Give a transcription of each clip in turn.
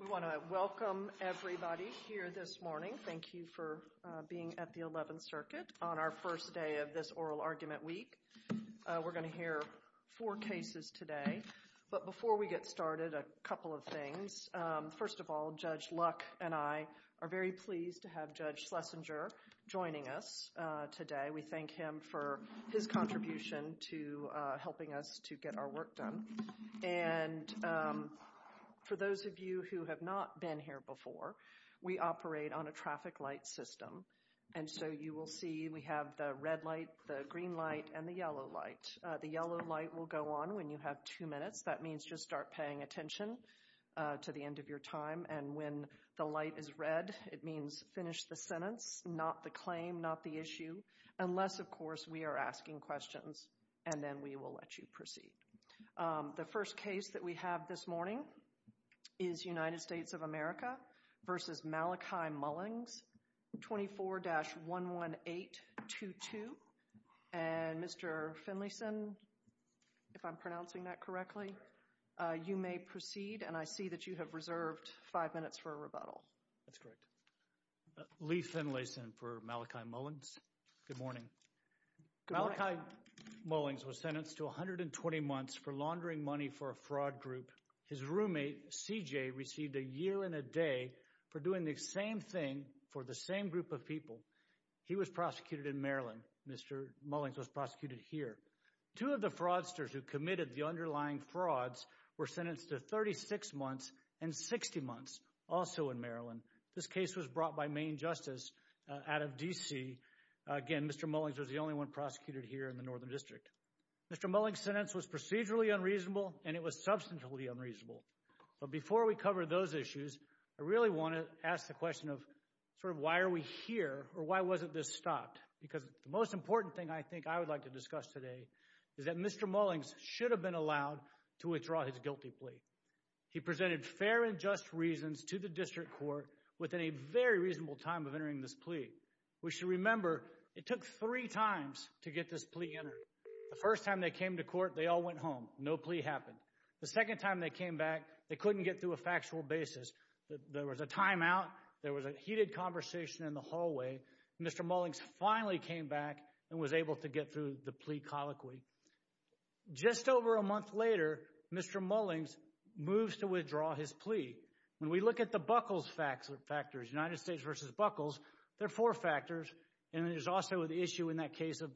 We want to welcome everybody here this morning. Thank you for being at the 11th Circuit on our first day of this Oral Argument Week. We're going to hear four cases today, but before we get started, a couple of things. First of all, Judge Luck and I are very pleased to have Judge Schlesinger joining us today. We thank him for his contribution to helping us to get our work done. And for those of you who have not been here before, we operate on a traffic light system. And so you will see we have the red light, the green light and the yellow light. The yellow light will go on when you have two minutes. That means just start paying attention to the end of your time. And when the light is red, it means finish the sentence, not the claim, not the issue, unless of course we are asking questions and then we will let you proceed. The first case that we have this morning is United States of America v. Malachi Mullings, 24-11822. And Mr. Finlayson, if I'm pronouncing that correctly, you may proceed and I see that you have reserved five minutes for a rebuttal. That's correct. Lee Finlayson for Malachi Mullings. Good morning. Malachi Mullings was sentenced to 120 months for laundering money for a fraud group. His roommate, CJ, received a year and a day for doing the same thing for the same group of people. He was prosecuted in Maryland. Mr. Mullings was prosecuted here. Two of the fraudsters who committed the underlying frauds were sentenced to 36 months and 60 months also in Maryland. This case was brought by Maine Justice out of D.C. Again, Mr. Mullings was the only one prosecuted here in the Northern District. Mr. Mullings' sentence was procedurally unreasonable and it was substantially unreasonable. But before we cover those issues, I really want to ask the question of sort of why are we here or why wasn't this stopped? Because the most important thing I think I would like to discuss today is that Mr. Mullings should have been allowed to withdraw his guilty plea. He presented fair and just reasons to the District Court within a very reasonable time of entering this plea. We should remember it took three times to get this plea entered. The first time they came to court, they all went home. No plea happened. The second time they came back, they couldn't get through a factual basis. There was a timeout. There was a heated conversation in the hallway. Mr. Mullings finally came back and was able to get through the plea colloquy. Just over a month later, Mr. Mullings moves to withdraw his plea. When we look at the buckles factors, United States versus buckles, there are four factors and there's also the issue in that case of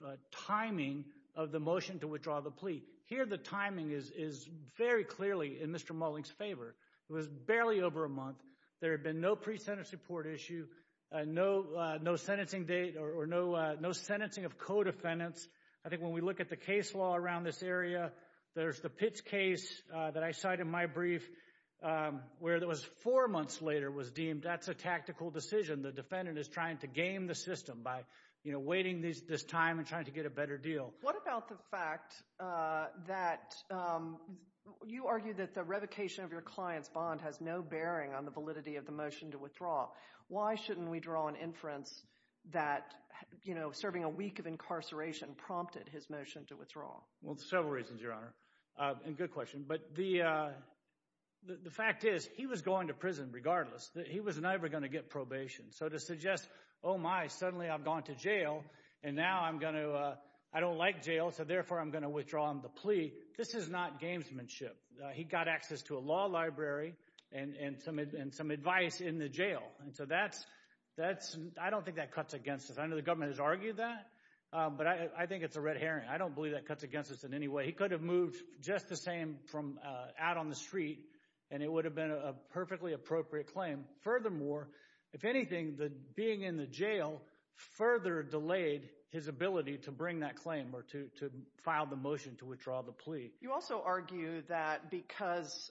timing of the motion to withdraw the plea. Here the timing is very clearly in Mr. Mullings' favor. It was barely over a month. There had been no pre-sentence report issue, no sentencing date or no sentencing of co-defendants. I think when we look at the case law around this area, there's the Pitts case that I cite in my brief where it was four months later was deemed, that's a tactical decision. The defendant is trying to game the system by waiting this time and trying to get a better deal. What about the fact that you argue that the revocation of your client's bond has no bearing on the validity of the motion to withdraw? Why shouldn't we draw an inference that serving a week of incarceration prompted his motion to withdraw? Well, there's several reasons, Your Honor, and good question. The fact is, he was going to prison regardless. He was never going to get probation. So to suggest, oh my, suddenly I've gone to jail and now I don't like jail, so therefore I'm going to withdraw the plea, this is not gamesmanship. He got access to a law library and some advice in the jail. So that's, I don't think that cuts against us. I know the government has argued that, but I think it's a red herring. I don't believe that cuts against us in any way. He could have moved just the same from out on the street and it would have been a perfectly appropriate claim. Furthermore, if anything, being in the jail further delayed his ability to bring that claim or to file the motion to withdraw the plea. You also argue that because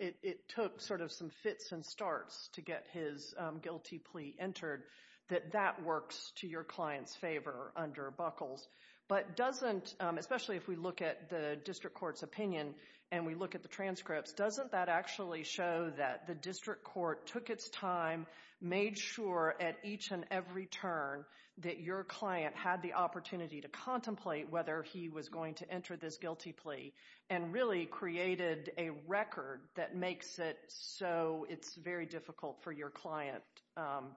it took sort of some fits and starts to get his guilty plea entered, that that works to your client's favor under Buckles. But doesn't, especially if we look at the district court's opinion and we look at the transcripts, doesn't that actually show that the district court took its time, made sure at each and every turn that your client had the opportunity to contemplate whether he was going to enter this guilty plea, and really created a record that makes it so it's very difficult for your client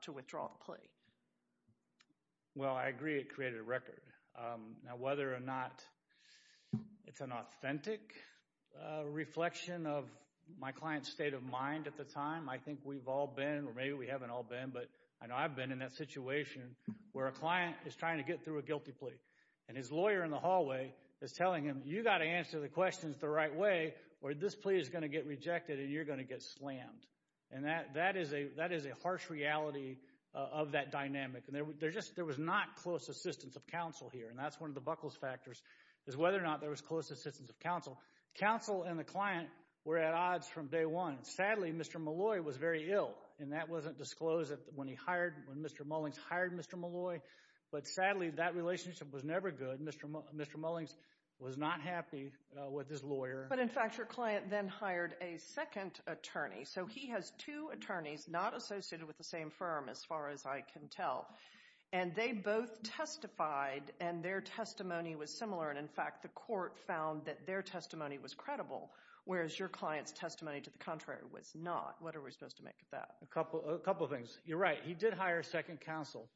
to withdraw the plea? Well, I agree it created a record. Now, whether or not it's an authentic reflection of my client's state of mind at the time, I think we've all been, or maybe we haven't all been, but I know I've been in that situation where a client is trying to get through a guilty plea, and his lawyer in the hallway is telling him, you've got to answer the questions the right way or this plea is going to get rejected and you're going to get slammed. And that is a harsh reality of that dynamic. And there was not close assistance of counsel here, and that's one of the Buckles factors, is whether or not there was close assistance of counsel. Counsel and the client were at odds from day one. Sadly, Mr. Malloy was very ill, and that wasn't disclosed when he hired, when Mr. Mullings hired Mr. Malloy. But sadly, that relationship was never good. Mr. Mullings was not happy with his lawyer. But in fact, your client then hired a second attorney. So he has two attorneys not associated with the same firm, as far as I can tell. And they both testified, and their testimony was similar. And in fact, the court found that their testimony was credible, whereas your client's testimony to the contrary was not. What are we supposed to make of that? A couple of things. You're right. He did hire a second counsel.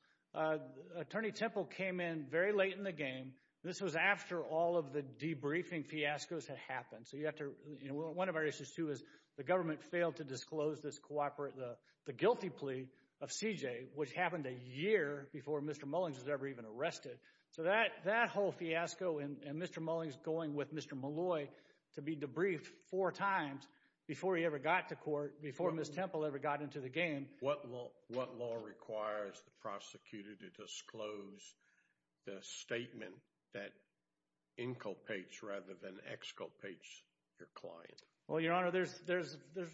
Attorney Temple came in very late in the game. This was after all of the debriefing fiascos had happened. So you have to, you know, one of our issues, too, is the government failed to disclose this cooperate, the guilty plea of CJ, which happened a year before Mr. Mullings was ever even arrested. So that whole fiasco, and Mr. Mullings going with Mr. Malloy to be debriefed four times before he ever got to court, before Ms. Temple ever got into the game. What law requires the prosecutor to disclose the statement that inculpates rather than exculpates your client? Well, Your Honor, there's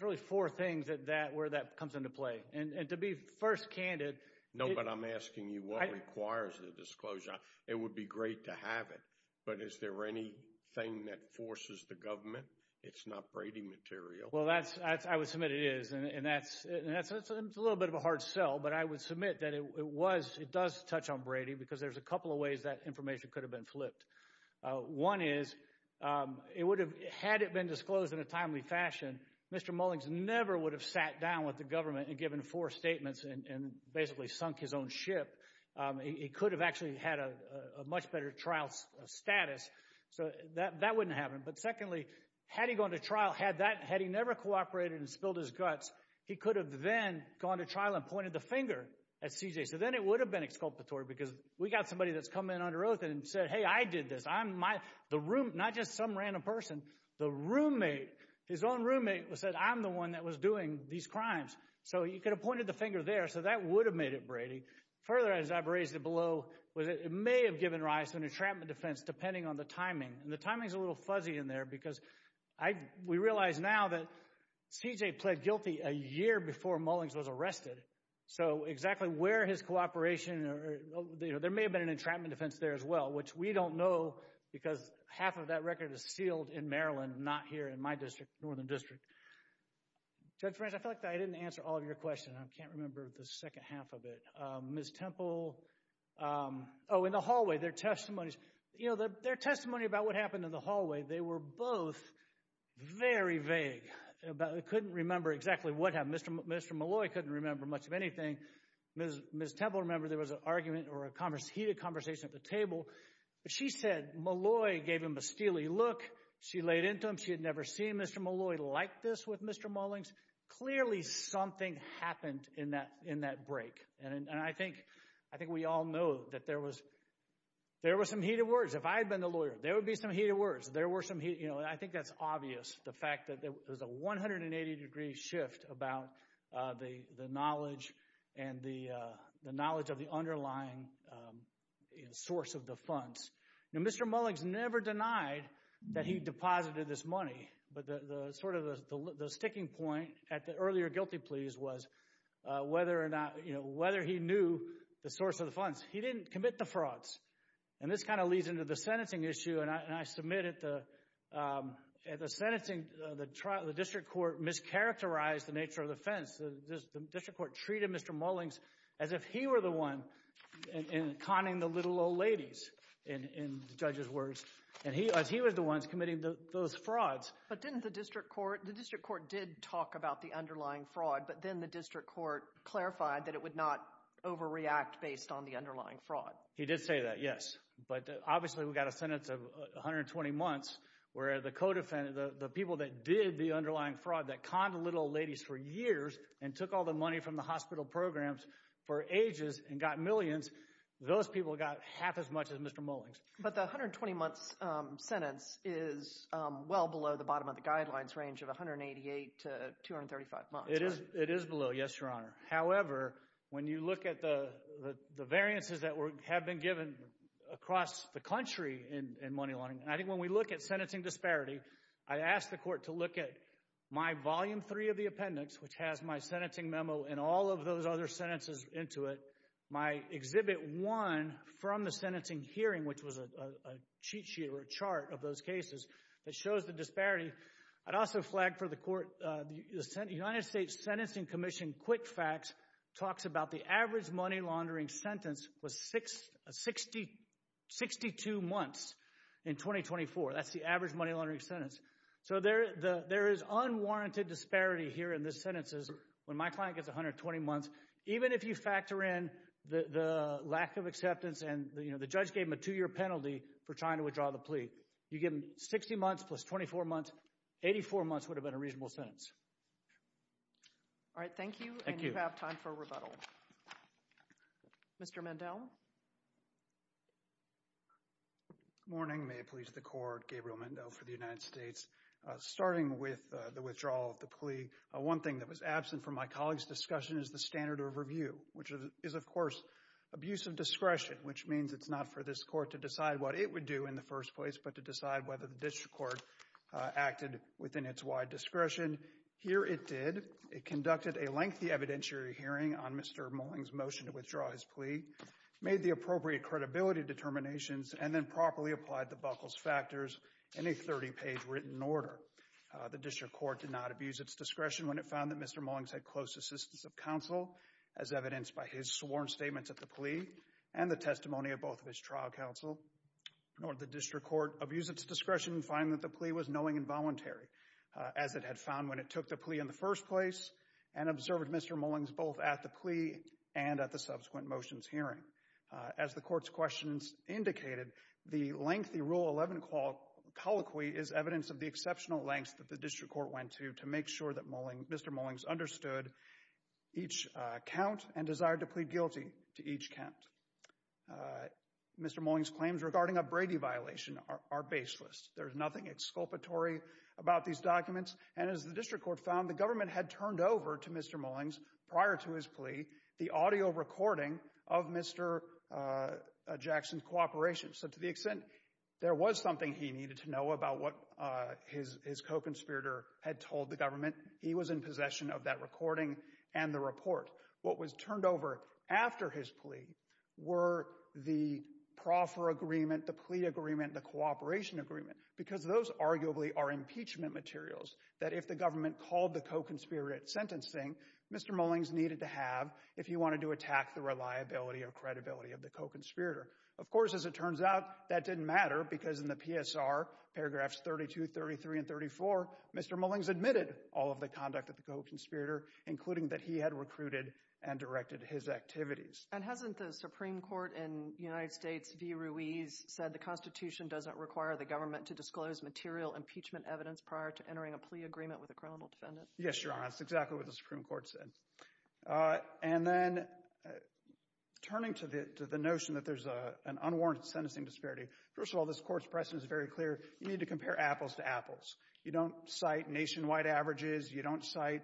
really four things at that, where that comes into play. And to be first candid. No, but I'm asking you what requires the disclosure. It would be great to have it. But is there anything that forces the government? It's not Brady material. Well, that's, I would submit it is. And that's a little bit of a hard sell. But I would submit that it was, it does touch on Brady because there's a couple of ways that information could have been flipped. One is, it would have, had it been disclosed in a timely fashion, Mr. Mullings never would have sat down with the government and given four statements and basically sunk his own ship. He could have actually had a much better trial status. So that wouldn't have happened. But secondly, had he gone to trial, had that, had he never cooperated and spilled his guts, he could have then gone to trial and pointed the finger at CJ. So then it would have been exculpatory because we got somebody that's come in under oath and said, hey, I did this. I'm my, the room, not just some random person, the roommate, his own roommate said, I'm the one that was doing these crimes. So you could have pointed the finger there. So that would have made it Brady. Further, as I've raised it below, was it may have given rise to an entrapment defense depending on the timing. And the timing is a little fuzzy in there because I, we realize now that CJ pled guilty a year before Mullings was arrested. So exactly where his cooperation or, you know, there may have been an entrapment defense there as well, which we don't know because half of that record is sealed in Maryland, not here in my district, Northern District. Judge French, I feel like I didn't answer all of your questions. I can't remember the second half of it. Ms. Temple, oh, in the hallway, their testimonies, you know, their testimony about what happened in the hallway, they were both very vague about, couldn't remember exactly what happened. Mr. Malloy couldn't remember much of anything. Ms. Temple remembered there was an argument or a heated conversation at the table. She said Malloy gave him a steely look. She laid into him. She had never seen Mr. Malloy like this with Mr. Mullings. Clearly, something happened in that, in that break. And I think, I think we all know that there was, there was some heated words. If I had been the lawyer, there would be some heated words. There were some heated, you know, I think that's obvious, the fact that there was a 180-degree shift about the knowledge and the knowledge of the underlying source of the funds. Now, Mr. Mullings never denied that he deposited this money, but the sort of the sticking point at the earlier guilty pleas was whether or not, you know, whether he knew the source of the funds. He didn't commit the frauds. And this kind of leads into the sentencing issue, and I submit at the, at the sentencing, the district court mischaracterized the nature of the offense. The district court treated Mr. Mullings as if he were the one conning the little old ladies, in the judge's words. And he, as he was the ones committing those frauds. But didn't the district court, the district court did talk about the underlying fraud, but then the district court clarified that it would not overreact based on the underlying fraud. He did say that, yes. But obviously, we got a sentence of 120 months, where the co-defendant, the people that did the underlying fraud, that conned the little old ladies for years and took all the money from the hospital programs for ages and got millions, those people got half as much as Mr. Mullings. But the 120-month sentence is well below the bottom of the guidelines range of 188 to 235 months, right? It is, it is below, yes, Your Honor. However, when you look at the variances that have been given across the country in money laundering, I think when we look at sentencing disparity, I ask the court to look at my volume three of the appendix, which has my sentencing memo and all of those other sentences into it. My exhibit one from the sentencing hearing, which was a cheat sheet or a chart of those cases that shows the disparity. I'd also flag for the court, the United States Sentencing Commission quick facts talks about the average money laundering sentence was 62 months in 2024. That's the average money laundering sentence. So there is unwarranted disparity here in the sentences. When my client gets 120 months, even if you factor in the lack of acceptance and the judge gave him a two-year penalty for trying to withdraw the plea, you give him 60 months plus 24 months, 84 months would have been a reasonable sentence. All right. Thank you. Thank you. And you have time for rebuttal. Mr. Mendel. Good morning. May it please the court, Gabriel Mendel for the United States. Starting with the withdrawal of the plea, one thing that was absent from my colleague's discussion is the standard of review, which is, of course, abuse of discretion, which means it's not for this court to decide what it would do in the first place, but to decide whether the district court acted within its wide discretion. Here it did. It conducted a lengthy evidentiary hearing on Mr. Mullings' motion to withdraw his plea, made the appropriate credibility determinations, and then properly applied the Buckles' factors in a 30-page written order. The district court did not abuse its discretion when it found that Mr. Mullings had close assistance of counsel, as evidenced by his sworn statements at the plea and the testimony of both of his trial counsel, nor did the district court abuse its discretion in finding that the plea was knowing and voluntary. As it had found when it took the plea in the first place and observed Mr. Mullings both at the plea and at the subsequent motions hearing. As the court's questions indicated, the lengthy Rule 11 colloquy is evidence of the exceptional lengths that the district court went to to make sure that Mr. Mullings understood each count and desired to plead guilty to each count. Mr. Mullings' claims regarding a Brady violation are baseless. There's nothing exculpatory about these documents, and as the district court found, the government had turned over to Mr. Mullings, prior to his plea, the audio recording of Mr. Jackson's cooperation. So to the extent there was something he needed to know about what his co-conspirator had told the government, he was in possession of that recording and the report. What was turned over after his plea were the proffer agreement, the plea agreement, the cooperation agreement, because those arguably are impeachment materials that if the government called the co-conspirator at sentencing, Mr. Mullings needed to have if he wanted to attack the reliability or credibility of the co-conspirator. Of course, as it turns out, that didn't matter because in the PSR, paragraphs 32, 33, and 34, Mr. Mullings admitted all of the conduct of the co-conspirator, including that he had recruited and directed his activities. And hasn't the Supreme Court in United States v. Ruiz said the Constitution doesn't require the government to disclose material impeachment evidence prior to entering a plea agreement with a criminal defendant? Yes, Your Honor. That's exactly what the Supreme Court said. And then turning to the notion that there's an unwarranted sentencing disparity, first of all, this Court's precedent is very clear. You need to compare apples to apples. You don't cite nationwide averages. You don't cite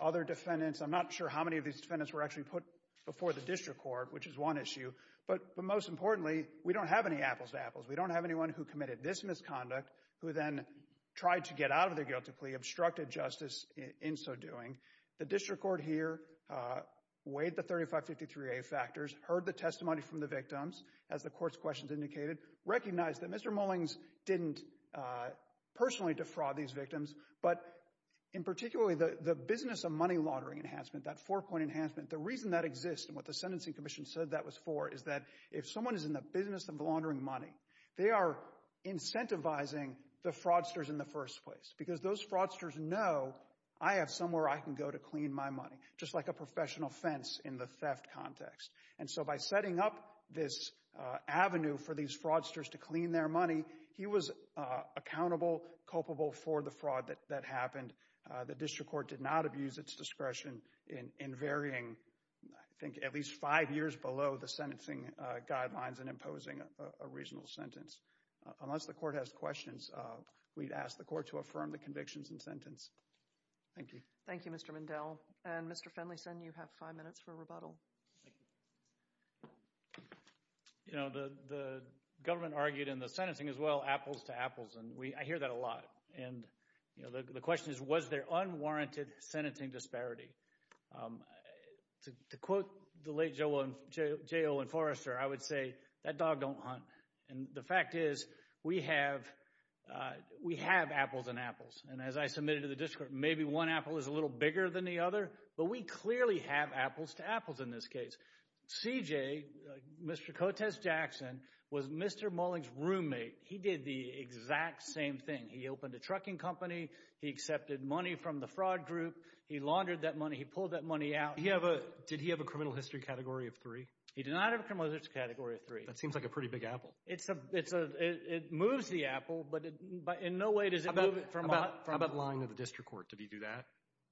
other defendants. I'm not sure how many of these defendants were actually put before the district court, which is one issue. But most importantly, we don't have any apples to apples. We don't have anyone who committed this misconduct who then tried to get out of their guilt to plea, obstructed justice in so doing. The district court here weighed the 3553A factors, heard the testimony from the victims, as the Court's questions indicated, recognized that Mr. Mullings didn't personally defraud these victims. But in particularly, the business of money laundering enhancement, that four-point enhancement, the reason that exists and what the Sentencing Commission said that was for is that if someone is in the business of laundering money, they are incentivizing the fraudsters in the first place because those fraudsters know I have somewhere I can go to clean my money, just like a professional fence in the theft context. And so by setting up this avenue for these fraudsters to clean their money, he was accountable, culpable for the fraud that happened. The district court did not abuse its discretion in varying, I think, at least five years below the sentencing guidelines and imposing a reasonable sentence. Unless the court has questions, we'd ask the court to affirm the convictions and sentence. Thank you. Thank you, Mr. Mindell. And Mr. Finlayson, you have five minutes for rebuttal. You know, the government argued in the sentencing as well, apples to apples, and I hear that a lot. And, you know, the question is, was there unwarranted sentencing disparity? To quote the late J. Owen Forrester, I would say, that dog don't hunt. And the fact is, we have apples and apples, and as I submitted to the district, maybe one apple is a little bigger than the other, but we clearly have apples to apples in this case. C.J., Mr. Cotes-Jackson, was Mr. Mullings' roommate. He did the exact same thing. He opened a trucking company. He accepted money from the fraud group. He laundered that money. He pulled that money out. Did he have a criminal history category of three? He did not have a criminal history category of three. That seems like a pretty big apple. It moves the apple, but in no way does it move it from a— How about lying to the district court? Did he do that?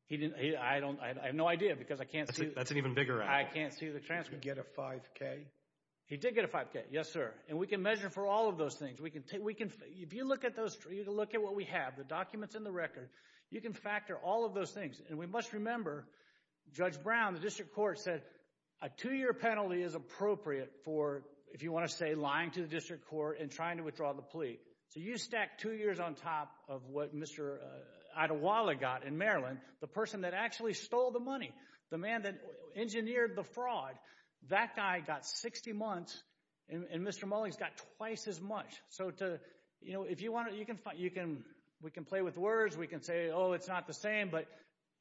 He didn't—I have no idea because I can't see— That's an even bigger apple. I can't see the transcript. Did he get a 5K? He did get a 5K, yes, sir. And we can measure for all of those things. If you look at what we have, the documents and the record, you can factor all of those things. And we must remember, Judge Brown, the district court, said a two-year penalty is appropriate for, if you want to say, lying to the district court and trying to withdraw the plea. So you stack two years on top of what Mr. Adewale got in Maryland, the person that actually stole the money, the man that engineered the fraud, that guy got 60 months and Mr. Mullings got twice as much. So if you want to—we can play with words. We can say, oh, it's not the same, but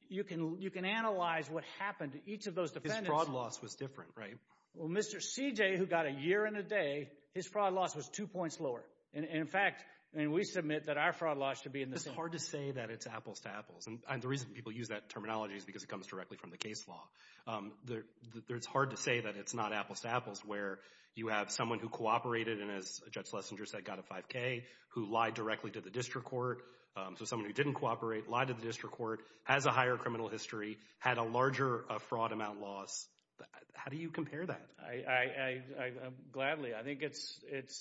you can analyze what happened to each of those defendants. His fraud loss was different, right? Well, Mr. Ceejay, who got a year and a day, his fraud loss was two points lower. In fact, we submit that our fraud loss should be in the same— It's hard to say that it's apples to apples. And the reason people use that terminology is because it comes directly from the case law. It's hard to say that it's not apples to apples, where you have someone who cooperated and, as Judge Lessinger said, got a 5K, who lied directly to the district court, so someone who didn't cooperate, lied to the district court, has a higher criminal history, had a larger fraud amount loss. How do you compare that? I—gladly. I think it's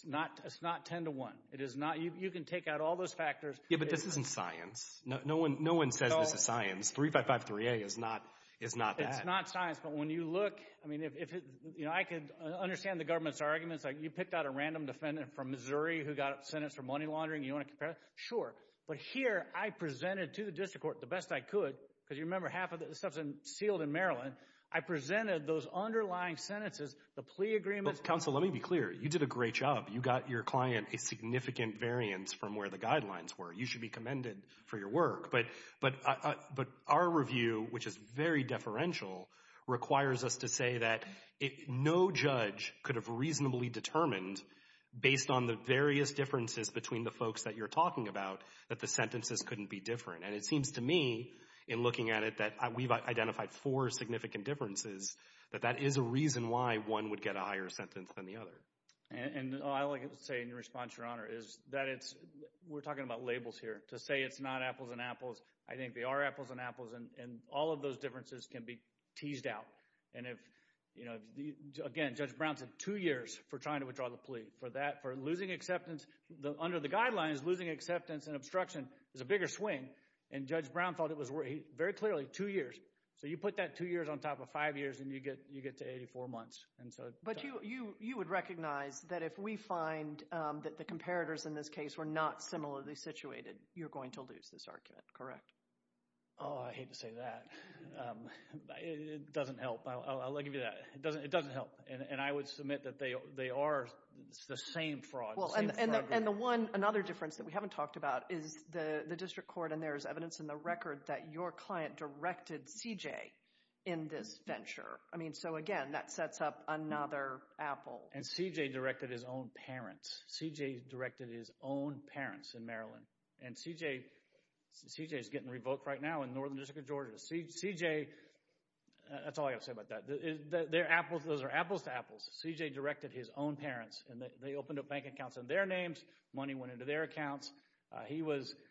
not—it's not 10 to 1. It is not—you can take out all those factors. Yeah, but this isn't science. No one says this is science. 355-3A is not—is not that. It's not science, but when you look—I mean, if—you know, I could understand the government's arguments. Like, you picked out a random defendant from Missouri who got sentenced for money laundering. You want to compare that? Sure. But here, I presented to the district court, the best I could, because you remember, half of this stuff is sealed in Maryland. I presented those underlying sentences, the plea agreements— But, counsel, let me be clear. You did a great job. You got your client a significant variance from where the guidelines were. You should be commended for your work. But our review, which is very deferential, requires us to say that if no judge could have reasonably determined, based on the various differences between the folks that you're talking about, that the sentences couldn't be different. And it seems to me, in looking at it, that we've identified four significant differences, that that is a reason why one would get a higher sentence than the other. And all I can say in response, Your Honor, is that it's—we're talking about labels here. To say it's not apples and apples, I think they are apples and apples, and all of those differences can be teased out. And if, you know, again, Judge Brown said two years for trying to withdraw the plea. For that, for losing acceptance—under the guidelines, losing acceptance and obstruction is a bigger swing. And Judge Brown thought it was—very clearly, two years. So you put that two years on top of five years, and you get to 84 months. And so— But you would recognize that if we find that the comparators in this case were not similarly situated, you're going to lose this argument, correct? Oh, I hate to say that. It doesn't help. I'll give you that. It doesn't help. And I would submit that they are the same fraud. And the one—another difference that we haven't talked about is the district court, and there is evidence in the record that your client directed CJ in this venture. I mean, so again, that sets up another apple. And CJ directed his own parents. CJ directed his own parents in Maryland. And CJ—CJ's getting revoked right now in Northern District of Georgia. CJ—that's all I got to say about that. They're apples—those are apples to apples. CJ directed his own parents, and they opened up bank accounts under their names. Money went into their accounts. He was—and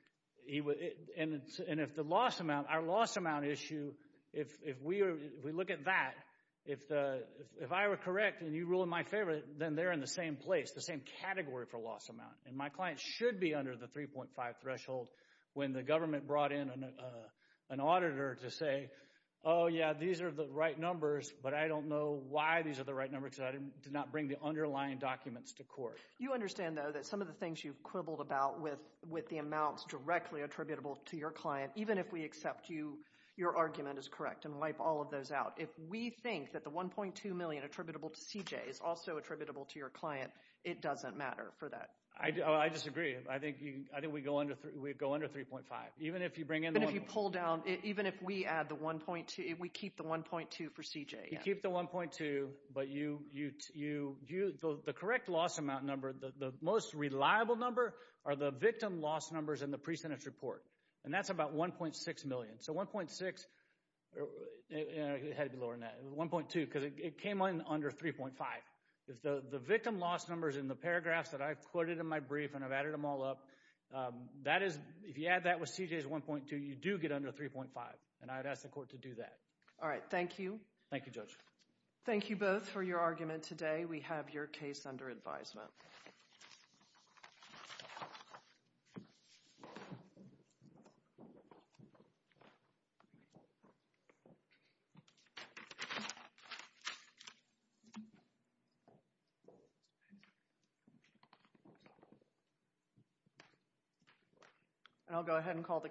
if the loss amount—our loss amount issue, if we look at that, if I were correct and you rule in my favor, then they're in the same place, the same category for loss amount. And my client should be under the 3.5 threshold when the government brought in an auditor to say, oh yeah, these are the right numbers, but I don't know why these are the right numbers because I did not bring the underlying documents to court. You understand, though, that some of the things you've quibbled about with the amounts directly attributable to your client, even if we accept you—your argument is correct and wipe all of those out. If we think that the $1.2 million attributable to CJ is also attributable to your client, it doesn't matter for that. I disagree. I think we go under 3.5. Even if you bring in— But if you pull down—even if we add the $1.2—if we keep the $1.2 for CJ. You keep the $1.2, but you—the correct loss amount number, the most reliable number are the victim loss numbers in the pre-sentence report, and that's about $1.6 million. So $1.6—it had to be lower than that—$1.2 because it came in under $3.5. The victim loss numbers in the paragraphs that I've quoted in my brief and I've added them all up, that is—if you add that with CJ's $1.2, you do get under $3.5, and I'd ask the court to do that. All right. Thank you. Thank you, Judge. Thank you both for your argument today. We have your case under advisement. And I'll go ahead and call the—